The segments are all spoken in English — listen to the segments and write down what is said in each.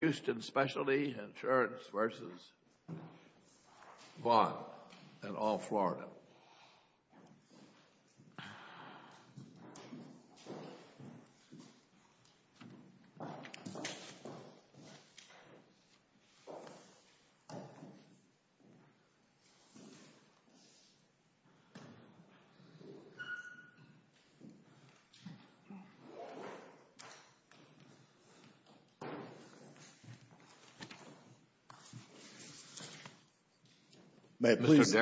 Houston Specialty Insurance v. Vaughn, in Old Florida May it please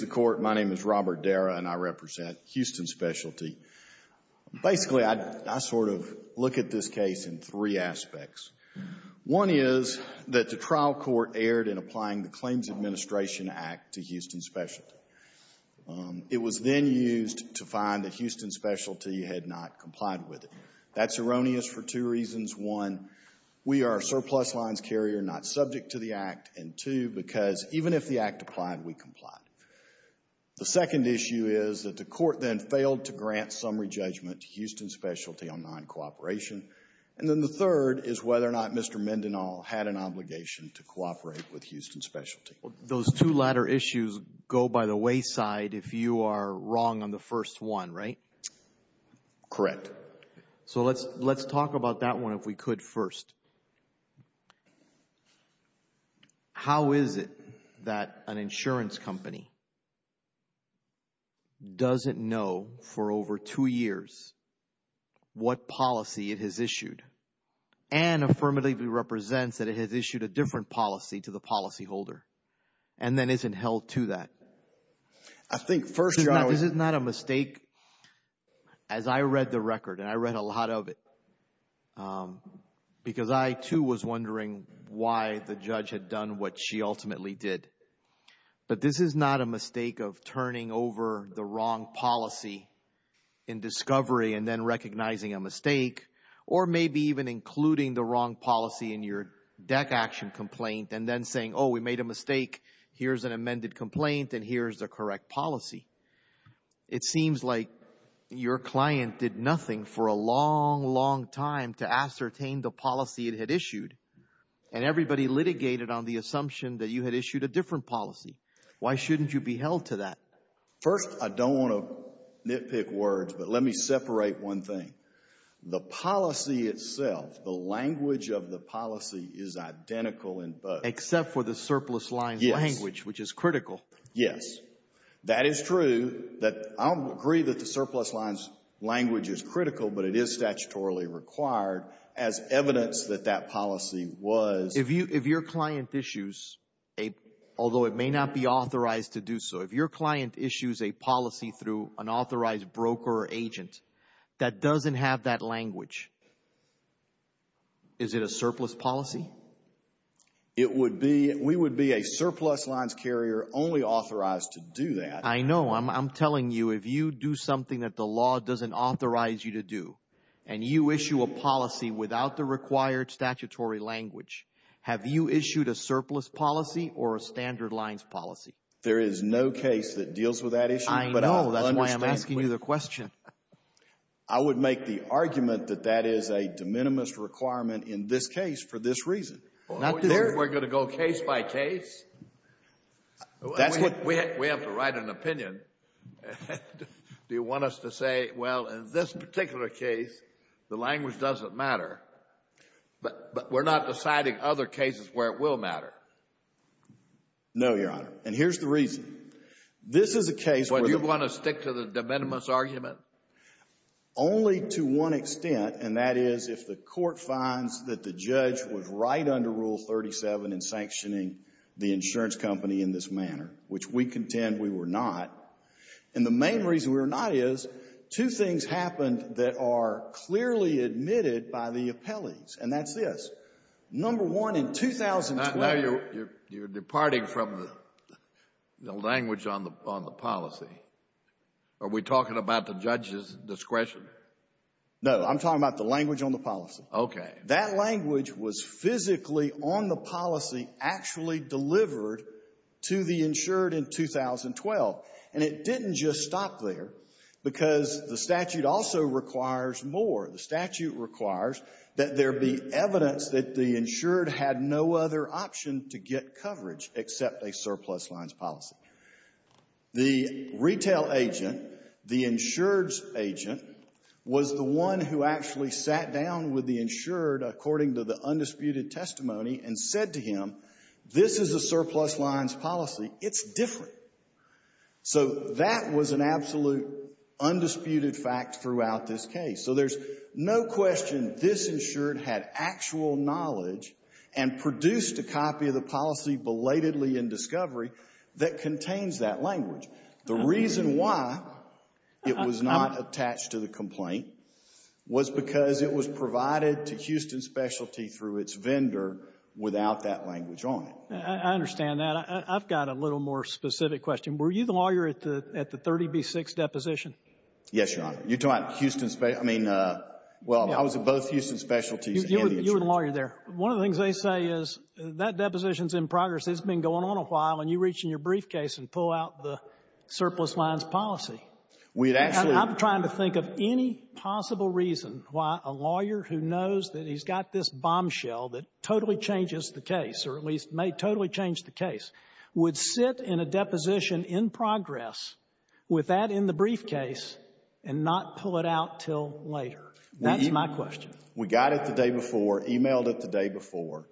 the Court, my name is Robert Darrah, and I represent Houston Specialty. Basically, I sort of look at this case in three aspects. One is that the trial court erred in applying the Claims Administration Act to Houston Specialty. It was then used to find that Houston Specialty had not complied with it. That's erroneous for two reasons. One, we are a surplus lines carrier, not subject to the Act. And two, because even if the Act applied, we complied. The second issue is that the Court then failed to grant summary judgment to Houston Specialty on non-cooperation. And then the third is whether or not Mr. Mendenhall had an obligation to cooperate with Houston Specialty. Those two latter issues go by the wayside if you are wrong on the first one, right? Correct. So let's talk about that one if we could first. How is it that an insurance company doesn't know for over two years what policy it has issued and affirmatively represents that it has issued a different policy to the policyholder and then isn't held to that? This is not a mistake as I read the record and I read a lot of it because I too was wondering why the judge had done what she ultimately did. But this is not a mistake of turning over the wrong policy in discovery and then recognizing a mistake or maybe even including the wrong policy in your deck action complaint and then saying, oh, we made a mistake, here's an amended complaint and here's the correct policy. It seems like your client did nothing for a long, long time to ascertain the policy it had issued and everybody litigated on the assumption that you had issued a different policy. Why shouldn't you be held to that? First, I don't want to nitpick words, but let me separate one thing. The policy itself, the language of the policy is identical in both. Except for the surplus lines language, which is critical. Yes. That is true. I don't agree that the surplus lines language is critical, but it is statutorily required as evidence that that policy was. If your client issues, although it may not be authorized to do so, if your client issues a policy through an authorized broker or agent that doesn't have that language, is it a surplus policy? We would be a surplus lines carrier only authorized to do that. I know. I'm telling you, if you do something that the law doesn't authorize you to do and you issue a policy without the required statutory language, have you issued a surplus policy or a standard lines policy? There is no case that deals with that issue. I know. That's why I'm asking you the question. I would make the argument that that is a de minimis requirement in this case for this reason. We're going to go case by case? We have to write an opinion. Do you want us to say, well, in this particular case, the language doesn't matter, but we're not deciding other cases where it will matter? No, Your Honor. And here's the reason. Well, do you want to stick to the de minimis argument? Only to one extent, and that is if the court finds that the judge was right under Rule 37 in sanctioning the insurance company in this manner, which we contend we were not, and the main reason we were not is two things happened that are clearly admitted by the appellees, and that's this. Number one, in 2012 — Now you're departing from the language on the policy. Are we talking about the judge's discretion? No. I'm talking about the language on the policy. Okay. That language was physically on the policy actually delivered to the insured in 2012. And it didn't just stop there because the statute also requires more. The statute requires that there be evidence that the insured had no other option to get coverage except a surplus lines policy. The retail agent, the insured's agent, was the one who actually sat down with the insured according to the undisputed testimony and said to him, this is a surplus lines policy. It's different. So that was an absolute undisputed fact throughout this case. So there's no question this insured had actual knowledge and produced a copy of the policy belatedly in discovery that contains that language. The reason why it was not attached to the complaint was because it was provided to Houston Specialty through its vendor without that language on it. I understand that. I've got a little more specific question. Were you the lawyer at the 30B6 deposition? Yes, Your Honor. You're talking Houston Specialty? I mean, well, I was at both Houston Specialty and the insured. You were the lawyer there. One of the things they say is that deposition's in progress. It's been going on a while. And you reach in your briefcase and pull out the surplus lines policy. I'm trying to think of any possible reason why a lawyer who knows that he's got this bombshell that totally changes the case, or at least may totally change the case, would sit in a deposition in progress with that in the briefcase and not pull it out until later. That's my question. We got it the day before, emailed it the day before.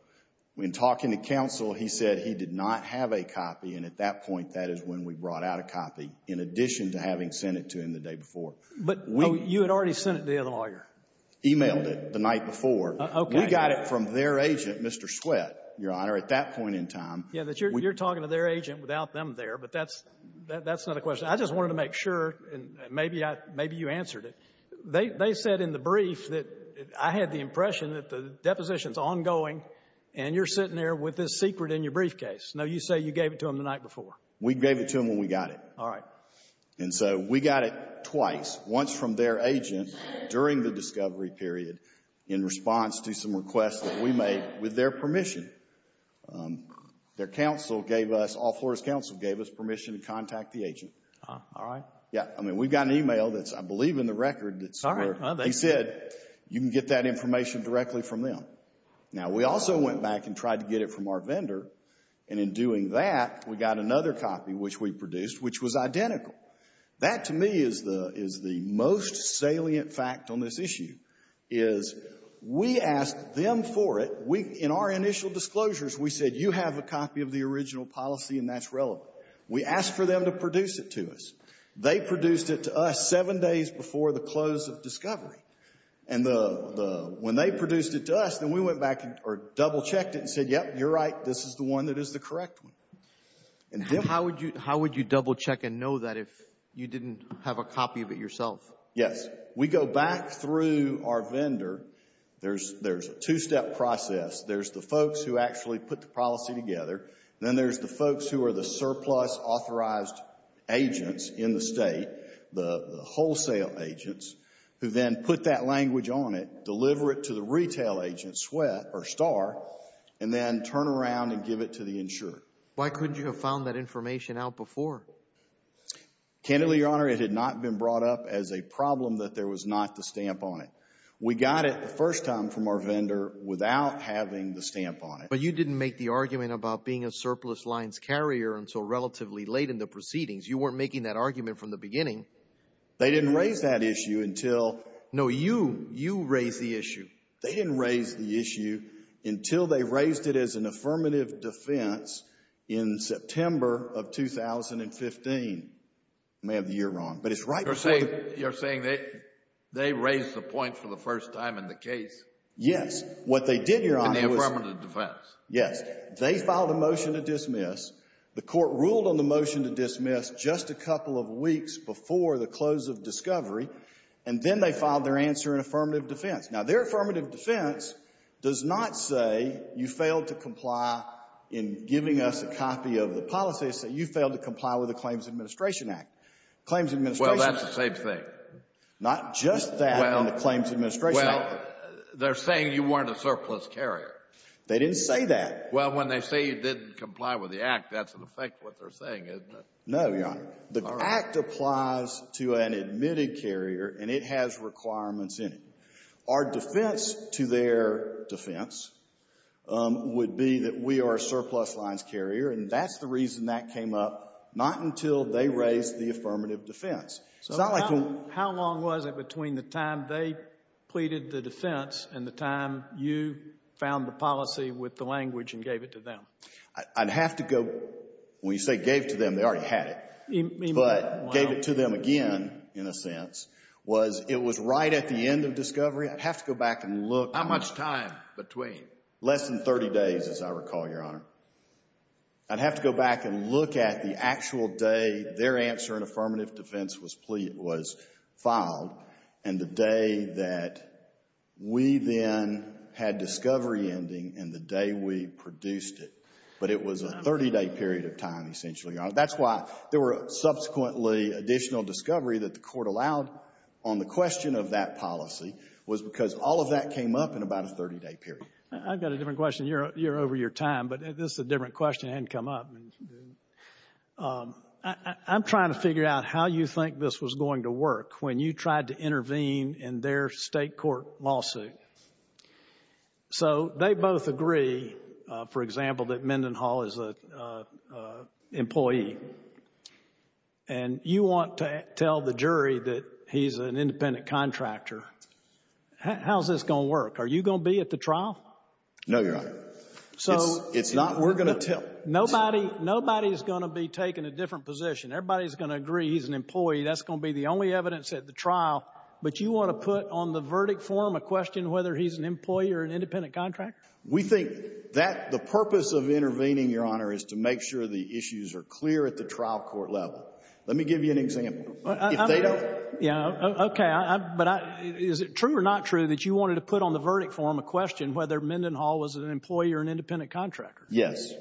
When talking to counsel, he said he did not have a copy. And at that point, that is when we brought out a copy, in addition to having sent it to him the day before. But you had already sent it to the other lawyer? Emailed it the night before. We got it from their agent, Mr. Sweatt, Your Honor, at that point in time. Yeah, you're talking to their agent without them there, but that's not a question. I just wanted to make sure, and maybe you answered it. They said in the brief that I had the impression that the deposition's ongoing and you're sitting there with this secret in your briefcase. No, you say you gave it to them the night before. We gave it to them when we got it. All right. And so we got it twice, once from their agent during the discovery period in response to some requests that we made with their permission. Their counsel gave us, All Florida's counsel gave us permission to contact the agent. All right. Yeah. I mean, we've got an email that's, I believe, in the record. Sorry. He said you can get that information directly from them. Now, we also went back and tried to get it from our vendor. And in doing that, we got another copy, which we produced, which was identical. That, to me, is the most salient fact on this issue, is we asked them for it. In our initial disclosures, we said you have a copy of the original policy and that's relevant. We asked for them to produce it to us. They produced it to us seven days before the close of discovery. And when they produced it to us, then we went back or double-checked it and said, yep, you're right, this is the one that is the correct one. How would you double-check and know that if you didn't have a copy of it yourself? Yes. We go back through our vendor. There's a two-step process. There's the folks who actually put the policy together. Then there's the folks who are the surplus authorized agents in the state, the wholesale agents, who then put that language on it, deliver it to the retail agent, SWEAT or STAR, and then turn around and give it to the insurer. Why couldn't you have found that information out before? Candidly, Your Honor, it had not been brought up as a problem that there was not the stamp on it. We got it the first time from our vendor without having the stamp on it. But you didn't make the argument about being a surplus lines carrier until relatively late in the proceedings. You weren't making that argument from the beginning. They didn't raise that issue until— No, you, you raised the issue. They didn't raise the issue until they raised it as an affirmative defense in September of 2015. I may have the year wrong, but it's right— You're saying they raised the point for the first time in the case— Yes. What they did, Your Honor, was— —in the affirmative defense. Yes. They filed a motion to dismiss. The Court ruled on the motion to dismiss just a couple of weeks before the close of discovery, and then they filed their answer in affirmative defense. Now, their affirmative defense does not say you failed to comply in giving us a copy of the policy. It says you failed to comply with the Claims Administration Act. Claims Administration— Well, that's the same thing. Not just that on the Claims Administration Act. Well, they're saying you weren't a surplus carrier. They didn't say that. Well, when they say you didn't comply with the Act, that's in effect what they're saying, isn't it? No, Your Honor. All right. The Act applies to an admitted carrier, and it has requirements in it. Our defense to their defense would be that we are a surplus lines carrier, and that's the reason that came up, not until they raised the affirmative defense. So how long was it between the time they pleaded the defense and the time you found the policy with the language and gave it to them? I'd have to go—when you say gave to them, they already had it. But gave it to them again, in a sense, was it was right at the end of discovery. I'd have to go back and look. How much time between? Less than 30 days, as I recall, Your Honor. I'd have to go back and look at the actual day their answer in affirmative defense was filed and the day that we then had discovery ending and the day we produced it. But it was a 30-day period of time, essentially, Your Honor. That's why there were subsequently additional discovery that the court allowed on the question of that policy was because all of that came up in about a 30-day period. I've got a different question. You're over your time, but this is a different question that hadn't come up. I'm trying to figure out how you think this was going to work when you tried to intervene in their state court lawsuit. So they both agree, for example, that Mendenhall is an employee, and you want to tell the jury that he's an independent contractor. How's this going to work? Are you going to be at the trial? No, Your Honor. So nobody's going to be taking a different position. Everybody's going to agree he's an employee. That's going to be the only evidence at the trial. But you want to put on the verdict form a question whether he's an employee or an independent contractor? We think that the purpose of intervening, Your Honor, is to make sure the issues are clear at the trial court level. Let me give you an example. Okay, but is it true or not true that you wanted to put on the verdict form a question whether Mendenhall was an employee or an independent contractor? Yes.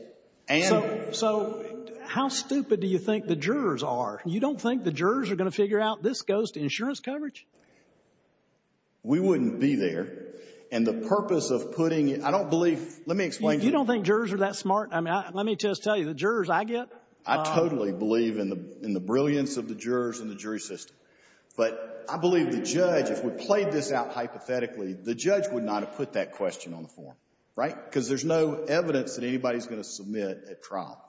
So how stupid do you think the jurors are? You don't think the jurors are going to figure out this goes to insurance coverage? We wouldn't be there. And the purpose of putting it, I don't believe, let me explain to you. You don't think jurors are that smart? I mean, let me just tell you, the jurors I get. I totally believe in the brilliance of the jurors and the jury system. But I believe the judge, if we played this out hypothetically, the judge would not have put that question on the form. Right? Because there's no evidence that anybody's going to submit at trial.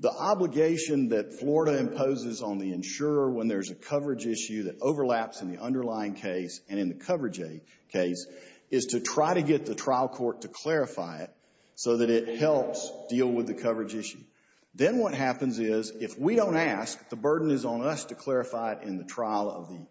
The obligation that Florida imposes on the insurer when there's a coverage issue that overlaps in the underlying case and in the coverage case is to try to get the trial court to clarify it so that it helps deal with the coverage issue. Then what happens is if we don't ask, the burden is on us to clarify it in the trial of the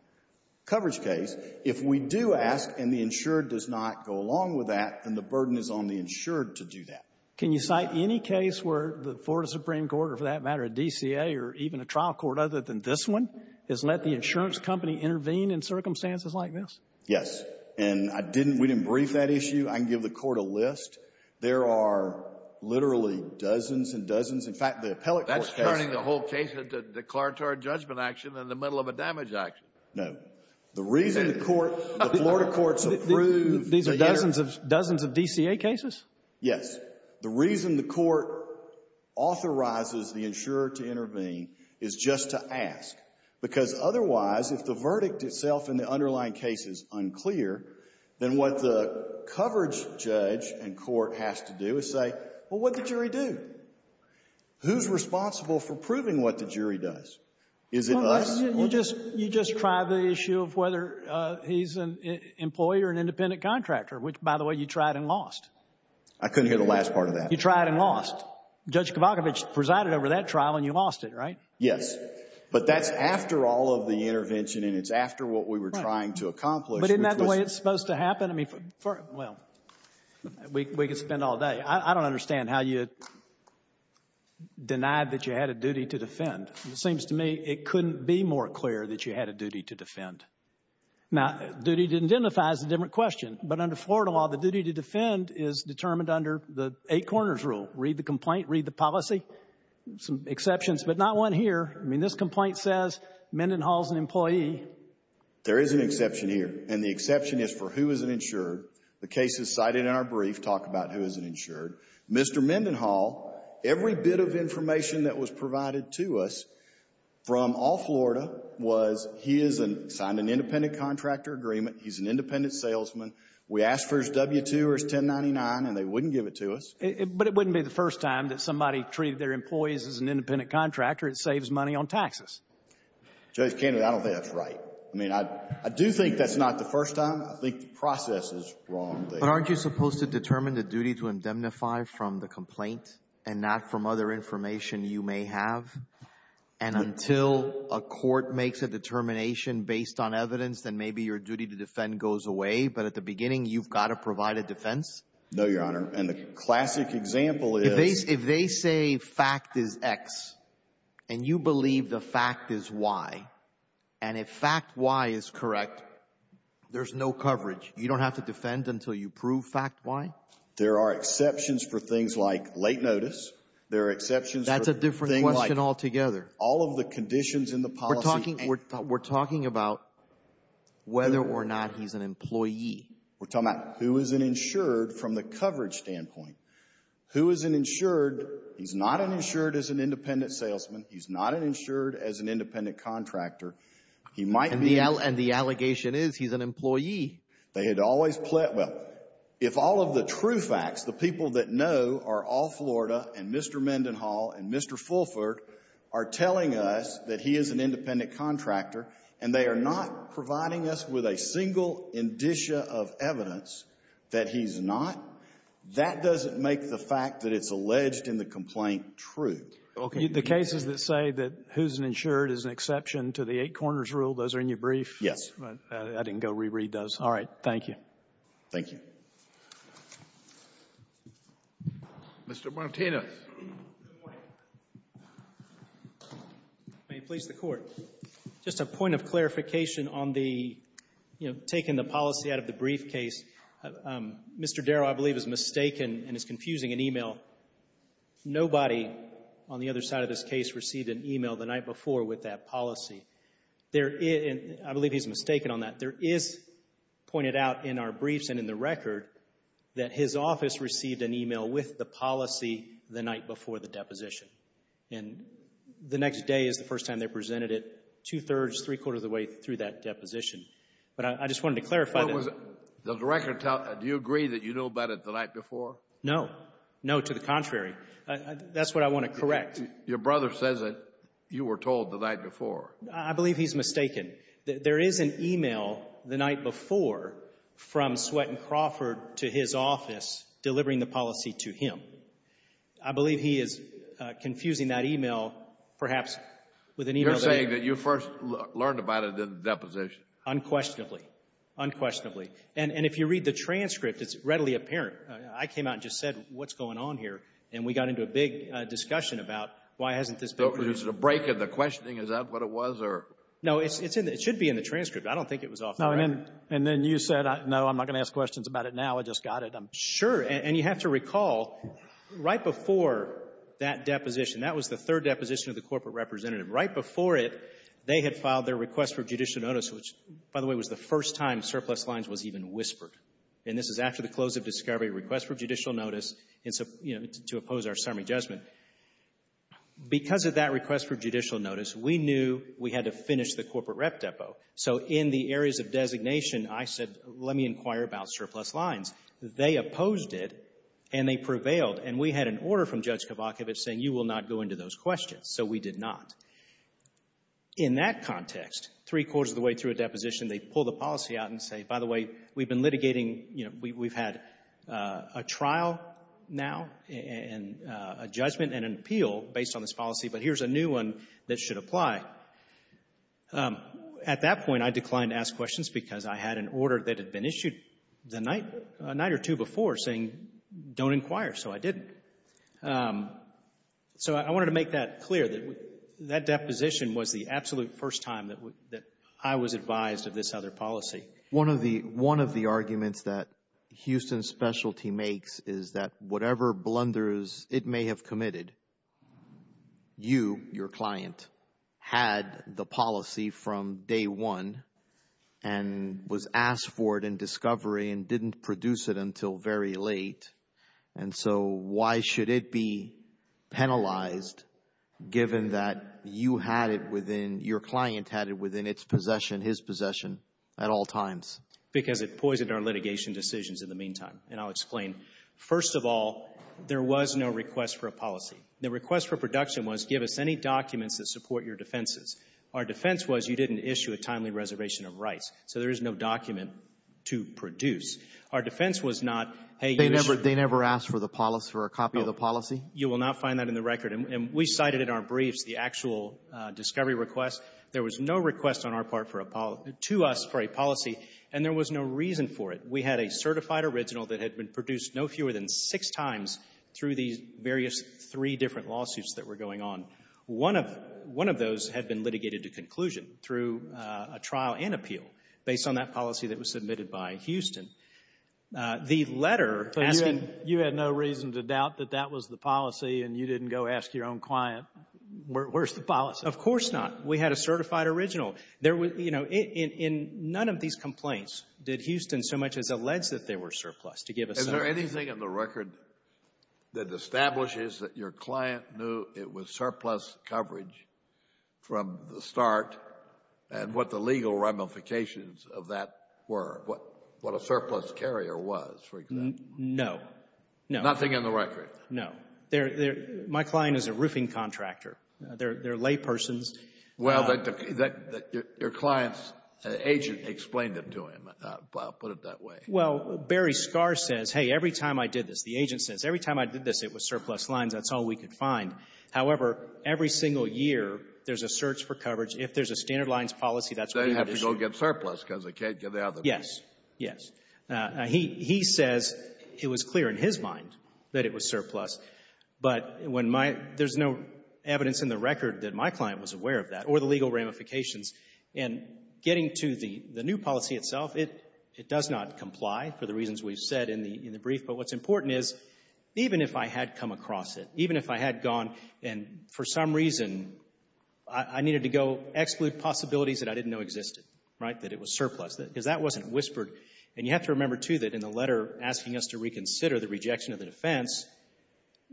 coverage case. If we do ask and the insured does not go along with that, then the burden is on the insured to do that. Can you cite any case where the Florida Supreme Court, or for that matter a DCA or even a trial court other than this one, has let the insurance company intervene in circumstances like this? Yes. And I didn't, we didn't brief that issue. I can give the court a list. There are literally dozens and dozens. In fact, the appellate court has. That's turning the whole case into declaratory judgment action in the middle of a damage action. No. The reason the court, the Florida courts approved. These are dozens of DCA cases? Yes. The reason the court authorizes the insurer to intervene is just to ask. Because otherwise, if the verdict itself in the underlying case is unclear, then what the coverage judge and court has to do is say, well, what did the jury do? Who's responsible for proving what the jury does? Is it us? You just tried the issue of whether he's an employee or an independent contractor, which, by the way, you tried and lost. I couldn't hear the last part of that. You tried and lost. Judge Kavakovich presided over that trial and you lost it, right? Yes. But that's after all of the intervention and it's after what we were trying to accomplish. But isn't that the way it's supposed to happen? I mean, well, we could spend all day. I don't understand how you denied that you had a duty to defend. It seems to me it couldn't be more clear that you had a duty to defend. Now, duty to identify is a different question. But under Florida law, the duty to defend is determined under the eight corners rule. Read the complaint, read the policy. Some exceptions, but not one here. I mean, this complaint says Mendenhall's an employee. There is an exception here, and the exception is for who is an insurer. The case is cited in our brief. Talk about who is an insurer. Mr. Mendenhall, every bit of information that was provided to us from all Florida was he signed an independent contractor agreement, he's an independent salesman. We asked for his W-2 or his 1099 and they wouldn't give it to us. But it wouldn't be the first time that somebody treated their employees as an independent contractor. It saves money on taxes. Judge Kennedy, I don't think that's right. I mean, I do think that's not the first time. I think the process is wrong there. But aren't you supposed to determine the duty to indemnify from the complaint and not from other information you may have? And until a court makes a determination based on evidence, then maybe your duty to defend goes away. But at the beginning, you've got to provide a defense? No, Your Honor. And the classic example is — If they say fact is X and you believe the fact is Y, and if fact Y is correct, there's no coverage. You don't have to defend until you prove fact Y? There are exceptions for things like late notice. There are exceptions for things like — That's a different question altogether. All of the conditions in the policy — We're talking about whether or not he's an employee. We're talking about who is an insured from the coverage standpoint. Who is an insured? He's not an insured as an independent salesman. He's not an insured as an independent contractor. He might be — And the allegation is he's an employee. They had always — Well, if all of the true facts, the people that know are all Florida and Mr. Mendenhall and Mr. Fulford are telling us that he is an independent contractor and they are not providing us with a single indicia of evidence that he's not, that doesn't make the fact that it's alleged in the complaint true. Okay. The cases that say that who's an insured is an exception to the eight corners rule, those are in your brief? Yes. I didn't go reread those. All right. Thank you. Thank you. Mr. Martinez. Good morning. May it please the Court. Just a point of clarification on the, you know, taking the policy out of the briefcase. Mr. Darrow, I believe, is mistaken and is confusing an e-mail. I believe he's mistaken on that. There is pointed out in our briefs and in the record that his office received an e-mail with the policy the night before the deposition. And the next day is the first time they presented it, two-thirds, three-quarters of the way through that deposition. But I just wanted to clarify that. Does the record tell — do you agree that you know about it the night before? No. No, to the contrary. That's what I want to correct. Your brother says that you were told the night before. I believe he's mistaken. There is an e-mail the night before from Swetton Crawford to his office delivering the policy to him. I believe he is confusing that e-mail perhaps with an e-mail that — You're saying that you first learned about it in the deposition. Unquestionably. Unquestionably. And if you read the transcript, it's readily apparent. I came out and just said, what's going on here? And we got into a big discussion about why hasn't this been produced? There's a break in the questioning. Is that what it was? No, it should be in the transcript. I don't think it was off the record. And then you said, no, I'm not going to ask questions about it now. I just got it. Sure. And you have to recall, right before that deposition, that was the third deposition of the corporate representative. Right before it, they had filed their request for judicial notice, which, by the way, was the first time surplus lines was even whispered. And this is after the close of discovery request for judicial notice to oppose our summary judgment. Because of that request for judicial notice, we knew we had to finish the corporate rep depot. So in the areas of designation, I said, let me inquire about surplus lines. They opposed it, and they prevailed. And we had an order from Judge Kovachevich saying you will not go into those questions. So we did not. In that context, three-quarters of the way through a deposition, they pull the policy out and say, by the way, we've been litigating, you know, we've had a trial now and a judgment and an appeal based on this policy, but here's a new one that should apply. At that point, I declined to ask questions because I had an order that had been issued the night or two before saying don't inquire. So I didn't. So I wanted to make that clear, that that deposition was the absolute first time that I was advised of this other policy. One of the arguments that Houston Specialty makes is that whatever blunders it may have committed, you, your client, had the policy from day one and was asked for it in discovery and didn't produce it until very late. And so why should it be penalized given that you had it within, your client had it within its possession, his possession at all times? Because it poisoned our litigation decisions in the meantime. And I'll explain. First of all, there was no request for a policy. The request for production was give us any documents that support your defenses. Our defense was you didn't issue a timely reservation of rights. So there is no document to produce. Our defense was not, hey, you issued — They never asked for the policy, for a copy of the policy? No. You will not find that in the record. And we cited in our briefs the actual discovery request. There was no request on our part for a — to us for a policy, and there was no reason for it. We had a certified original that had been produced no fewer than six times through these various three different lawsuits that were going on. One of those had been litigated to conclusion through a trial and appeal based on that policy that was submitted by Houston. The letter asking — But you had no reason to doubt that that was the policy and you didn't go ask your own client, where's the policy? Of course not. We had a certified original. There was — you know, in none of these complaints did Houston so much as allege that they were surplused, to give us some — Is there anything in the record that establishes that your client knew it was surplus coverage from the start, and what the legal ramifications of that were, what a surplus carrier was, for example? No. Nothing in the record? No. My client is a roofing contractor. They're laypersons. Well, your client's agent explained it to him. I'll put it that way. Well, Barry Scarr says, hey, every time I did this, the agent says, every time I did this, it was surplus lines. That's all we could find. However, every single year, there's a search for coverage. If there's a standard lines policy, that's — They have to go get surplus because they can't get the other piece. Yes. Yes. He says it was clear in his mind that it was surplus. But when my — there's no evidence in the record that my client was aware of that or the legal ramifications. And getting to the new policy itself, it does not comply for the reasons we've said in the brief. But what's important is, even if I had come across it, even if I had gone and, for some reason, I needed to go exclude possibilities that I didn't know existed, right, that it was surplus, because that wasn't whispered. And you have to remember, too, that in the letter asking us to reconsider the rejection of the defense,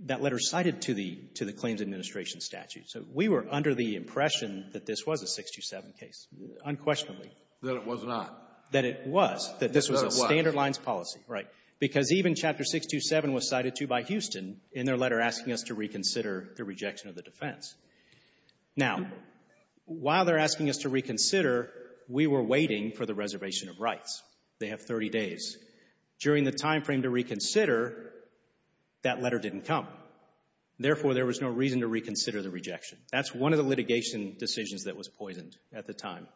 that letter cited to the claims administration statute. So we were under the impression that this was a 627 case, unquestionably. That it was not. That it was. That this was a standard lines policy. Right. Because even Chapter 627 was cited to by Houston in their letter asking us to reconsider the rejection of the defense. Now, while they're asking us to reconsider, we were waiting for the reservation of rights. They have 30 days. During the timeframe to reconsider, that letter didn't come. Therefore, there was no reason to reconsider the rejection. That's one of the litigation decisions that was poisoned at the time.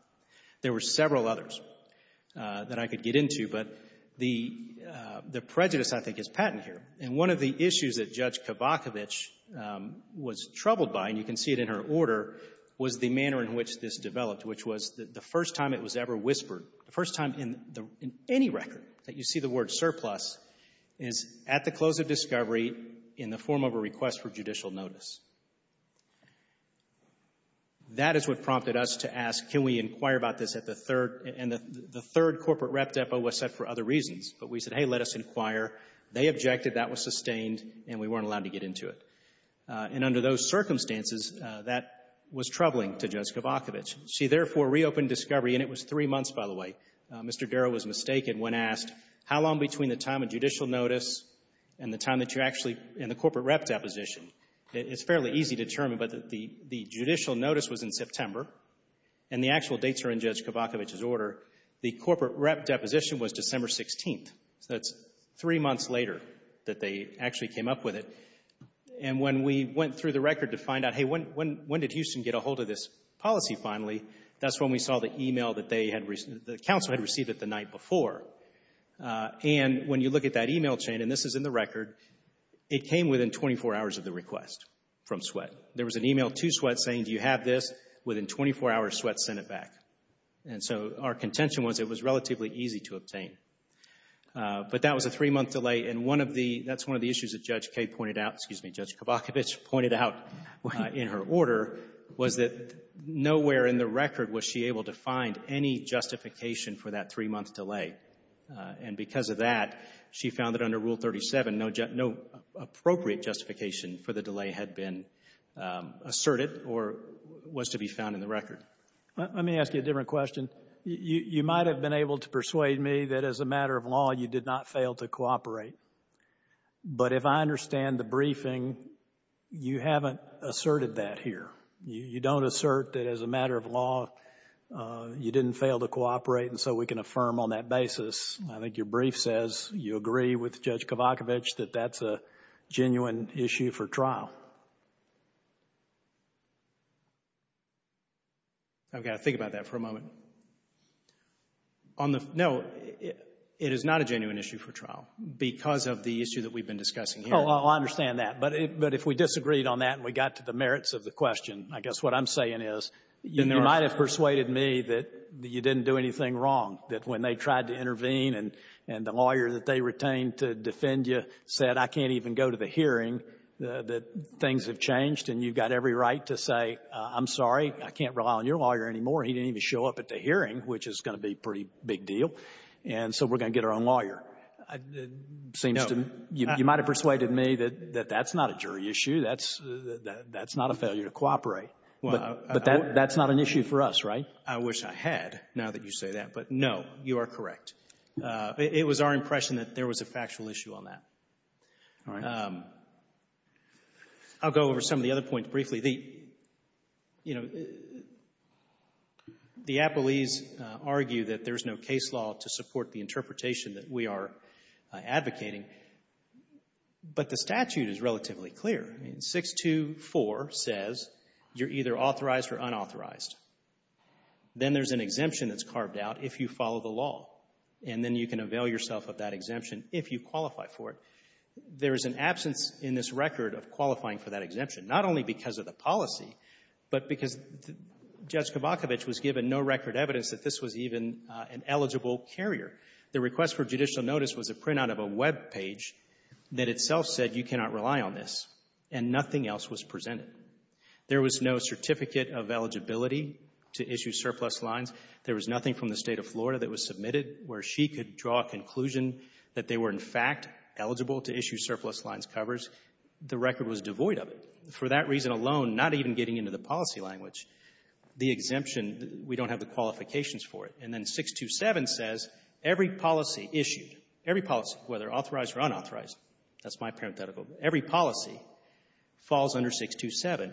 There were several others that I could get into, but the prejudice, I think, is patent here. And one of the issues that Judge Kavakovich was troubled by, and you can see it in her order, was the manner in which this developed, which was the first time it was ever whispered, the first time in any record that you see the word surplus is at the close of discovery in the form of a request for judicial notice. That is what prompted us to ask, can we inquire about this at the third? And the third corporate rep depot was set for other reasons, but we said, hey, let us inquire. They objected. That was sustained, and we weren't allowed to get into it. And under those circumstances, that was troubling to Judge Kavakovich. She, therefore, reopened discovery, and it was three months, by the way. Mr. Darrow was mistaken when asked, how long between the time of judicial notice and the time that you're actually in the corporate rep deposition? It's fairly easy to determine, but the judicial notice was in September, and the actual dates are in Judge Kavakovich's order. The corporate rep deposition was December 16th. So that's three months later that they actually came up with it. And when we went through the record to find out, hey, when did Houston get a hold of this policy finally, that's when we saw the e-mail that the counsel had received the night before. And when you look at that e-mail chain, and this is in the record, it came within 24 hours of the request from Sweatt. There was an e-mail to Sweatt saying, do you have this? Within 24 hours, Sweatt sent it back. And so our contention was it was relatively easy to obtain. But that was a three-month delay, and that's one of the issues that Judge Kavakovich pointed out in her order was that nowhere in the record was she able to find any justification for that three-month delay. And because of that, she found that under Rule 37, no appropriate justification for the delay had been asserted or was to be found in the record. Let me ask you a different question. You might have been able to persuade me that, as a matter of law, you did not fail to cooperate. But if I understand the briefing, you haven't asserted that here. You don't assert that, as a matter of law, you didn't fail to cooperate and so we can affirm on that basis. I think your brief says you agree with Judge Kavakovich that that's a genuine issue for trial. I've got to think about that for a moment. No, it is not a genuine issue for trial because of the issue that we've been discussing here. Oh, I understand that. But if we disagreed on that and we got to the merits of the question, I guess what I'm saying is you might have persuaded me that you didn't do anything wrong, that when they tried to intervene and the lawyer that they retained to defend you said, I can't even go to the hearing, that things have changed and you've got every right to say, I'm sorry, I can't rely on your lawyer anymore. He didn't even show up at the hearing, which is going to be a pretty big deal. And so we're going to get our own lawyer. It seems to me you might have persuaded me that that's not a jury issue. That's not a failure to cooperate. But that's not an issue for us, right? I wish I had, now that you say that. But, no, you are correct. All right. I'll go over some of the other points briefly. You know, the appellees argue that there's no case law to support the interpretation that we are advocating. But the statute is relatively clear. 624 says you're either authorized or unauthorized. Then there's an exemption that's carved out if you follow the law. And then you can avail yourself of that exemption if you qualify for it. There is an absence in this record of qualifying for that exemption, not only because of the policy, but because Judge Kabachevich was given no record evidence that this was even an eligible carrier. The request for judicial notice was a printout of a webpage that itself said you cannot rely on this, and nothing else was presented. There was no certificate of eligibility to issue surplus lines. There was nothing from the State of Florida that was submitted where she could draw a conclusion that they were, in fact, eligible to issue surplus lines covers. The record was devoid of it for that reason alone, not even getting into the policy language. The exemption, we don't have the qualifications for it. And then 627 says every policy issued, every policy, whether authorized or unauthorized, that's my parenthetical, every policy falls under 627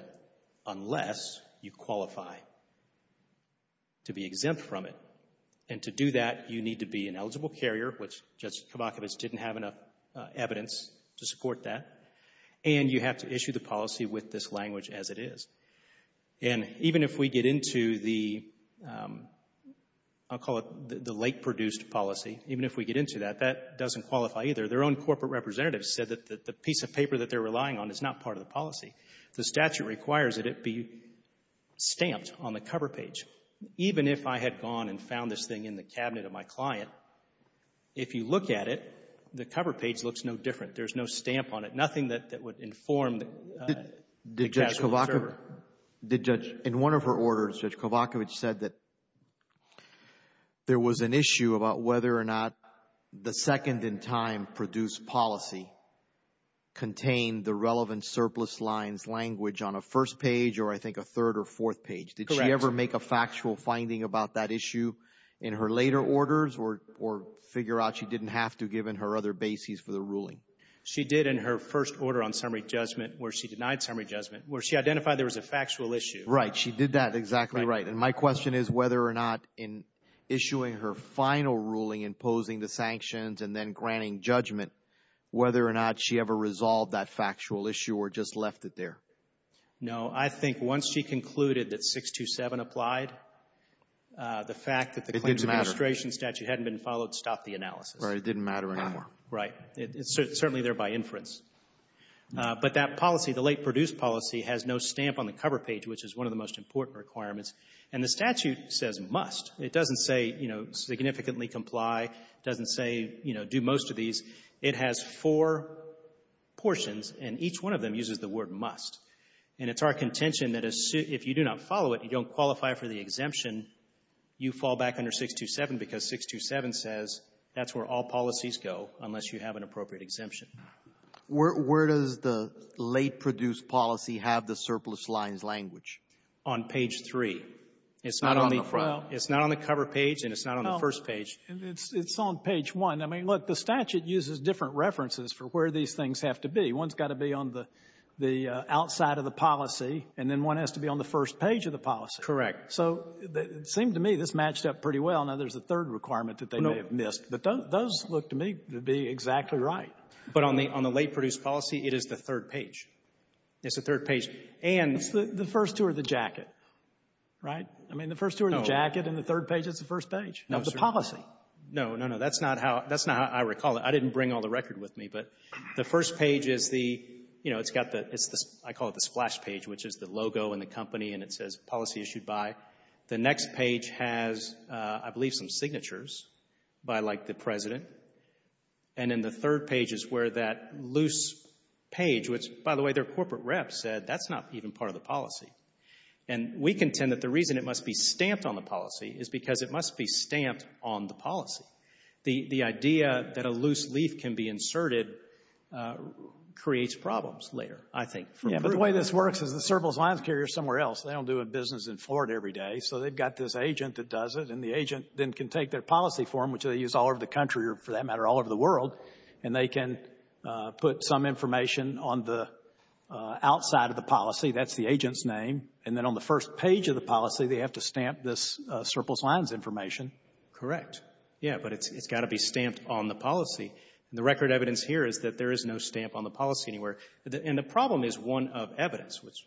unless you qualify to be exempt from it. And to do that, you need to be an eligible carrier, which Judge Kabachevich didn't have enough evidence to support that, and you have to issue the policy with this language as it is. And even if we get into the, I'll call it the late-produced policy, even if we get into that, that doesn't qualify either. Their own corporate representative said that the piece of paper that they're relying on is not part of the policy. The statute requires that it be stamped on the cover page. Even if I had gone and found this thing in the cabinet of my client, if you look at it, the cover page looks no different. There's no stamp on it, nothing that would inform the casual observer. Did Judge, in one of her orders, Judge Kabachevich said that there was an issue about whether or not the second-in-time produced policy contained the relevant surplus lines language on a first page or, I think, a third or fourth page. Did she ever make a factual finding about that issue in her later orders or figure out she didn't have to given her other bases for the ruling? She did in her first order on summary judgment where she denied summary judgment, where she identified there was a factual issue. Right. She did that. Exactly right. And my question is whether or not in issuing her final ruling, imposing the sanctions, and then granting judgment, whether or not she ever resolved that factual issue or just left it there. No. I think once she concluded that 627 applied, the fact that the Claims Administration statute hadn't been followed stopped the analysis. Right. It didn't matter anymore. Right. It's certainly there by inference. But that policy, the late produced policy, has no stamp on the cover page, which is one of the most important requirements. And the statute says must. It doesn't say, you know, significantly comply. It doesn't say, you know, do most of these. It has four portions, and each one of them uses the word must. And it's our contention that if you do not follow it, you don't qualify for the exemption, you fall back under 627 because 627 says that's where all policies go unless you have an appropriate exemption. Where does the late produced policy have the surplus lines language? On page 3. Not on the front. It's not on the cover page and it's not on the first page. It's on page 1. I mean, look, the statute uses different references for where these things have to be. One's got to be on the outside of the policy, and then one has to be on the first page of the policy. Correct. So it seemed to me this matched up pretty well. Now there's a third requirement that they may have missed. But those look to me to be exactly right. But on the late produced policy, it is the third page. It's the third page. And the first two are the jacket, right? I mean, the first two are the jacket and the third page is the first page of the policy. No, no, no, that's not how I recall it. I didn't bring all the record with me. But the first page is the, you know, it's got the, I call it the splash page, which is the logo and the company and it says policy issued by. The next page has, I believe, some signatures by, like, the president. And then the third page is where that loose page, which, by the way, their corporate rep said that's not even part of the policy. And we contend that the reason it must be stamped on the policy is because it must be stamped on the policy. The idea that a loose leaf can be inserted creates problems later, I think. Yeah, but the way this works is the surplus lines carrier is somewhere else. They don't do a business in Florida every day. So they've got this agent that does it, and the agent then can take their policy form, which they use all over the country or, for that matter, all over the world, and they can put some information on the outside of the policy. That's the agent's name. And then on the first page of the policy, they have to stamp this surplus lines information. Correct. Yeah, but it's got to be stamped on the policy. And the record evidence here is that there is no stamp on the policy anywhere. And the problem is one of evidence, which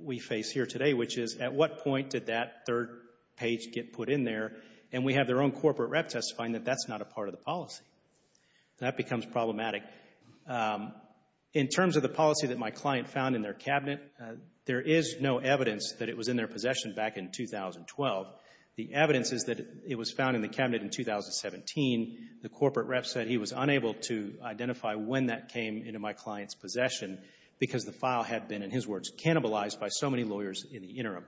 we face here today, which is at what point did that third page get put in there, and we have their own corporate rep testifying that that's not a part of the policy. That becomes problematic. In terms of the policy that my client found in their cabinet, there is no evidence that it was in their possession back in 2012. The evidence is that it was found in the cabinet in 2017. The corporate rep said he was unable to identify when that came into my client's possession because the file had been, in his words, cannibalized by so many lawyers in the interim.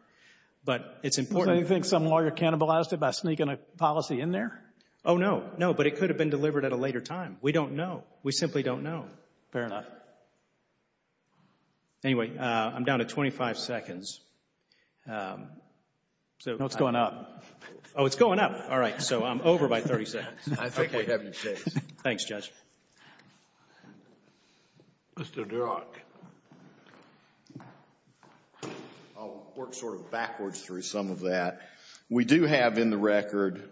But it's important. So you think some lawyer cannibalized it by sneaking a policy in there? Oh, no, no, but it could have been delivered at a later time. We don't know. We simply don't know. Fair enough. Anyway, I'm down to 25 seconds. What's going up? Oh, it's going up. All right, so I'm over by 30 seconds. I think we have your case. Thanks, Judge. Mr. Durack. I'll work sort of backwards through some of that. We do have in the record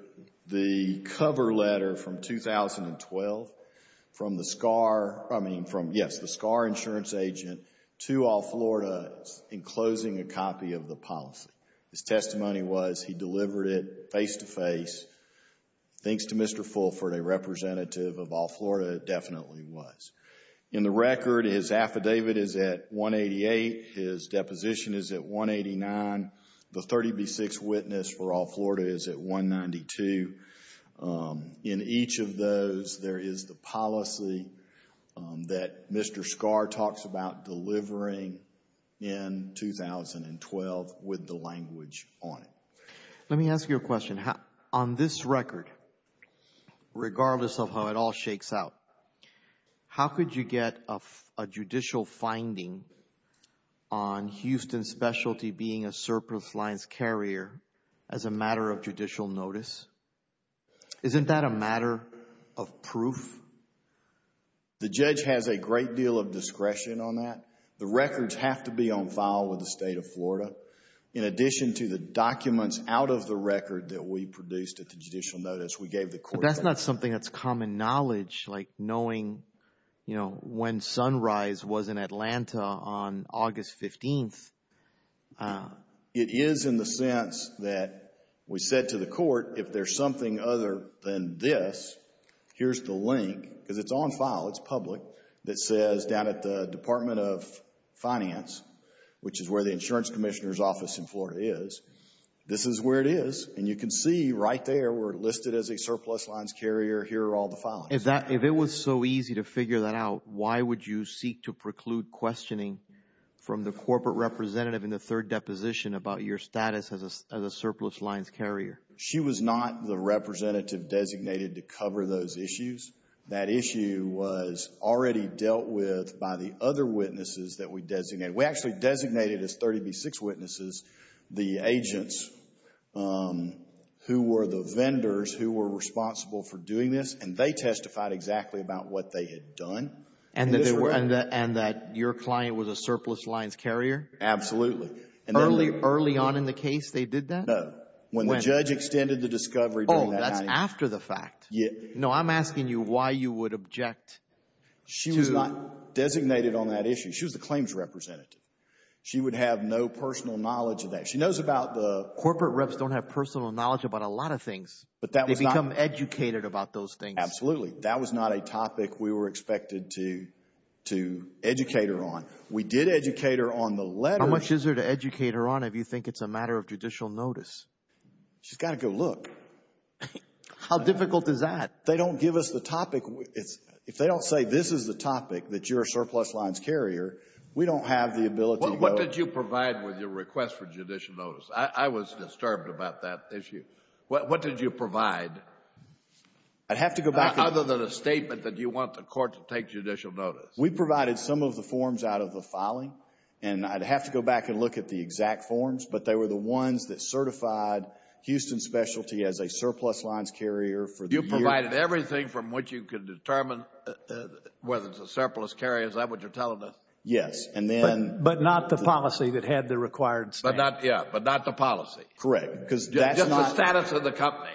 the cover letter from 2012 from the SCAR, I mean, from, yes, the SCAR insurance agent to All-Florida enclosing a copy of the policy. His testimony was he delivered it face-to-face. Thanks to Mr. Fulford, a representative of All-Florida, it definitely was. In the record, his affidavit is at 188. His deposition is at 189. The 30B6 witness for All-Florida is at 192. In each of those, there is the policy that Mr. SCAR talks about delivering in 2012 with the language on it. Let me ask you a question. On this record, regardless of how it all shakes out, how could you get a judicial finding on Houston specialty being a surplus lines carrier as a matter of judicial notice? Isn't that a matter of proof? The judge has a great deal of discretion on that. The records have to be on file with the State of Florida. In addition to the documents out of the record that we produced at the judicial notice we gave the court. That's not something that's common knowledge, like knowing when sunrise was in Atlanta on August 15th. It is in the sense that we said to the court, if there's something other than this, here's the link. Because it's on file, it's public, that says down at the Department of Finance, which is where the insurance commissioner's office in Florida is, this is where it is. And you can see right there we're listed as a surplus lines carrier. Here are all the filings. If it was so easy to figure that out, why would you seek to preclude questioning from the corporate representative in the third deposition about your status as a surplus lines carrier? She was not the representative designated to cover those issues. That issue was already dealt with by the other witnesses that we designated. We actually designated as 30B6 witnesses the agents who were the vendors who were responsible for doing this, and they testified exactly about what they had done. And that your client was a surplus lines carrier? Absolutely. Early on in the case they did that? When the judge extended the discovery during that time. Oh, that's after the fact. No, I'm asking you why you would object to – She was not designated on that issue. She was the claims representative. She would have no personal knowledge of that. She knows about the – Corporate reps don't have personal knowledge about a lot of things. They become educated about those things. Absolutely. That was not a topic we were expected to educate her on. We did educate her on the letters – How much is there to educate her on if you think it's a matter of judicial notice? She's got to go look. How difficult is that? They don't give us the topic. If they don't say this is the topic, that you're a surplus lines carrier, we don't have the ability to go – What did you provide with your request for judicial notice? I was disturbed about that issue. What did you provide? I'd have to go back and – Other than a statement that you want the court to take judicial notice. We provided some of the forms out of the filing, and I'd have to go back and look at the exact forms, as a surplus lines carrier for the year – You provided everything from what you could determine whether it's a surplus carrier. Is that what you're telling us? Yes, and then – But not the policy that had the required statement. Yeah, but not the policy. Correct. Just the status of the company.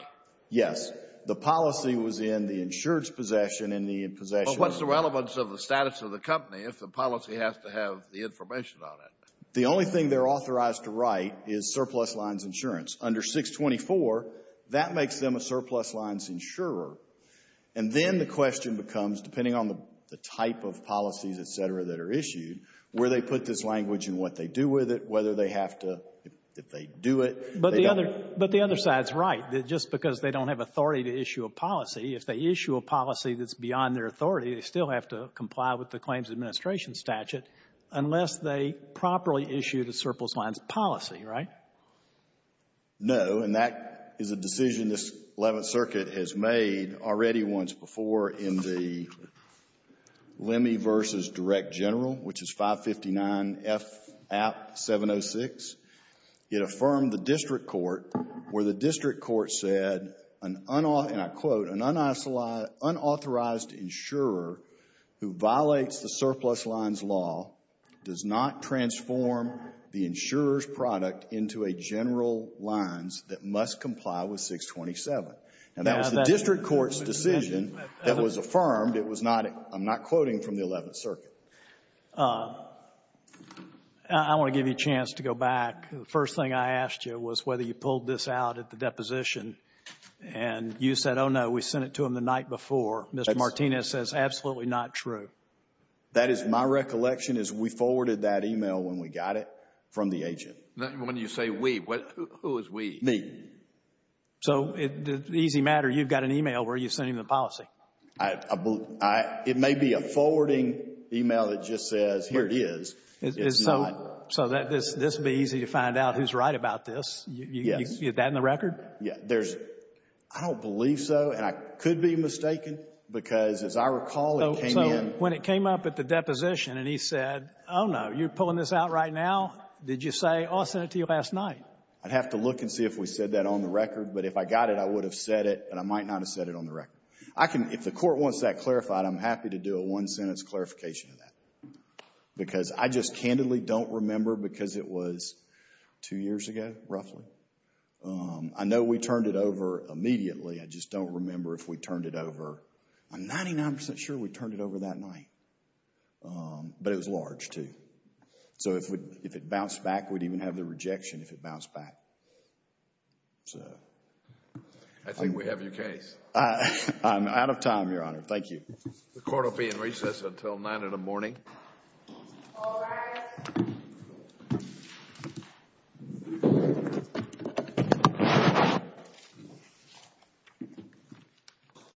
Yes. The policy was in the insured's possession and the possession – But what's the relevance of the status of the company if the policy has to have the information on it? The only thing they're authorized to write is surplus lines insurance. Under 624, that makes them a surplus lines insurer. And then the question becomes, depending on the type of policies, et cetera, that are issued, where they put this language and what they do with it, whether they have to – if they do it – But the other – but the other side's right. Just because they don't have authority to issue a policy, if they issue a policy that's beyond their authority, they still have to comply with the Claims Administration statute unless they properly issue the surplus lines policy, right? No, and that is a decision this Eleventh Circuit has made already once before in the Lemme v. Direct General, which is 559 F. App. 706. It affirmed the district court where the district court said, and I quote, an unauthorized insurer who violates the surplus lines law does not transform the insurer's product into a general lines that must comply with 627. And that was the district court's decision that was affirmed. It was not – I'm not quoting from the Eleventh Circuit. I want to give you a chance to go back. The first thing I asked you was whether you pulled this out at the deposition, and you said, oh, no, we sent it to them the night before. Mr. Martinez says, absolutely not true. That is my recollection is we forwarded that email when we got it from the agent. When you say we, who is we? Me. So the easy matter, you've got an email where you're sending the policy. It may be a forwarding email that just says, here it is. So this would be easy to find out who's right about this. You get that in the record? Yeah, there's – I don't believe so, and I could be mistaken because, as I recall, it came in – So when it came up at the deposition and he said, oh, no, you're pulling this out right now? Did you say, oh, I sent it to you last night? I'd have to look and see if we said that on the record. But if I got it, I would have said it, but I might not have said it on the record. If the court wants that clarified, I'm happy to do a one-sentence clarification of that because I just candidly don't remember because it was two years ago, roughly. I know we turned it over immediately. I just don't remember if we turned it over. I'm 99% sure we turned it over that night, but it was large, too. So if it bounced back, we'd even have the rejection if it bounced back. I think we have your case. I'm out of time, Your Honor. Thank you. The court will be in recess until 9 in the morning. All rise.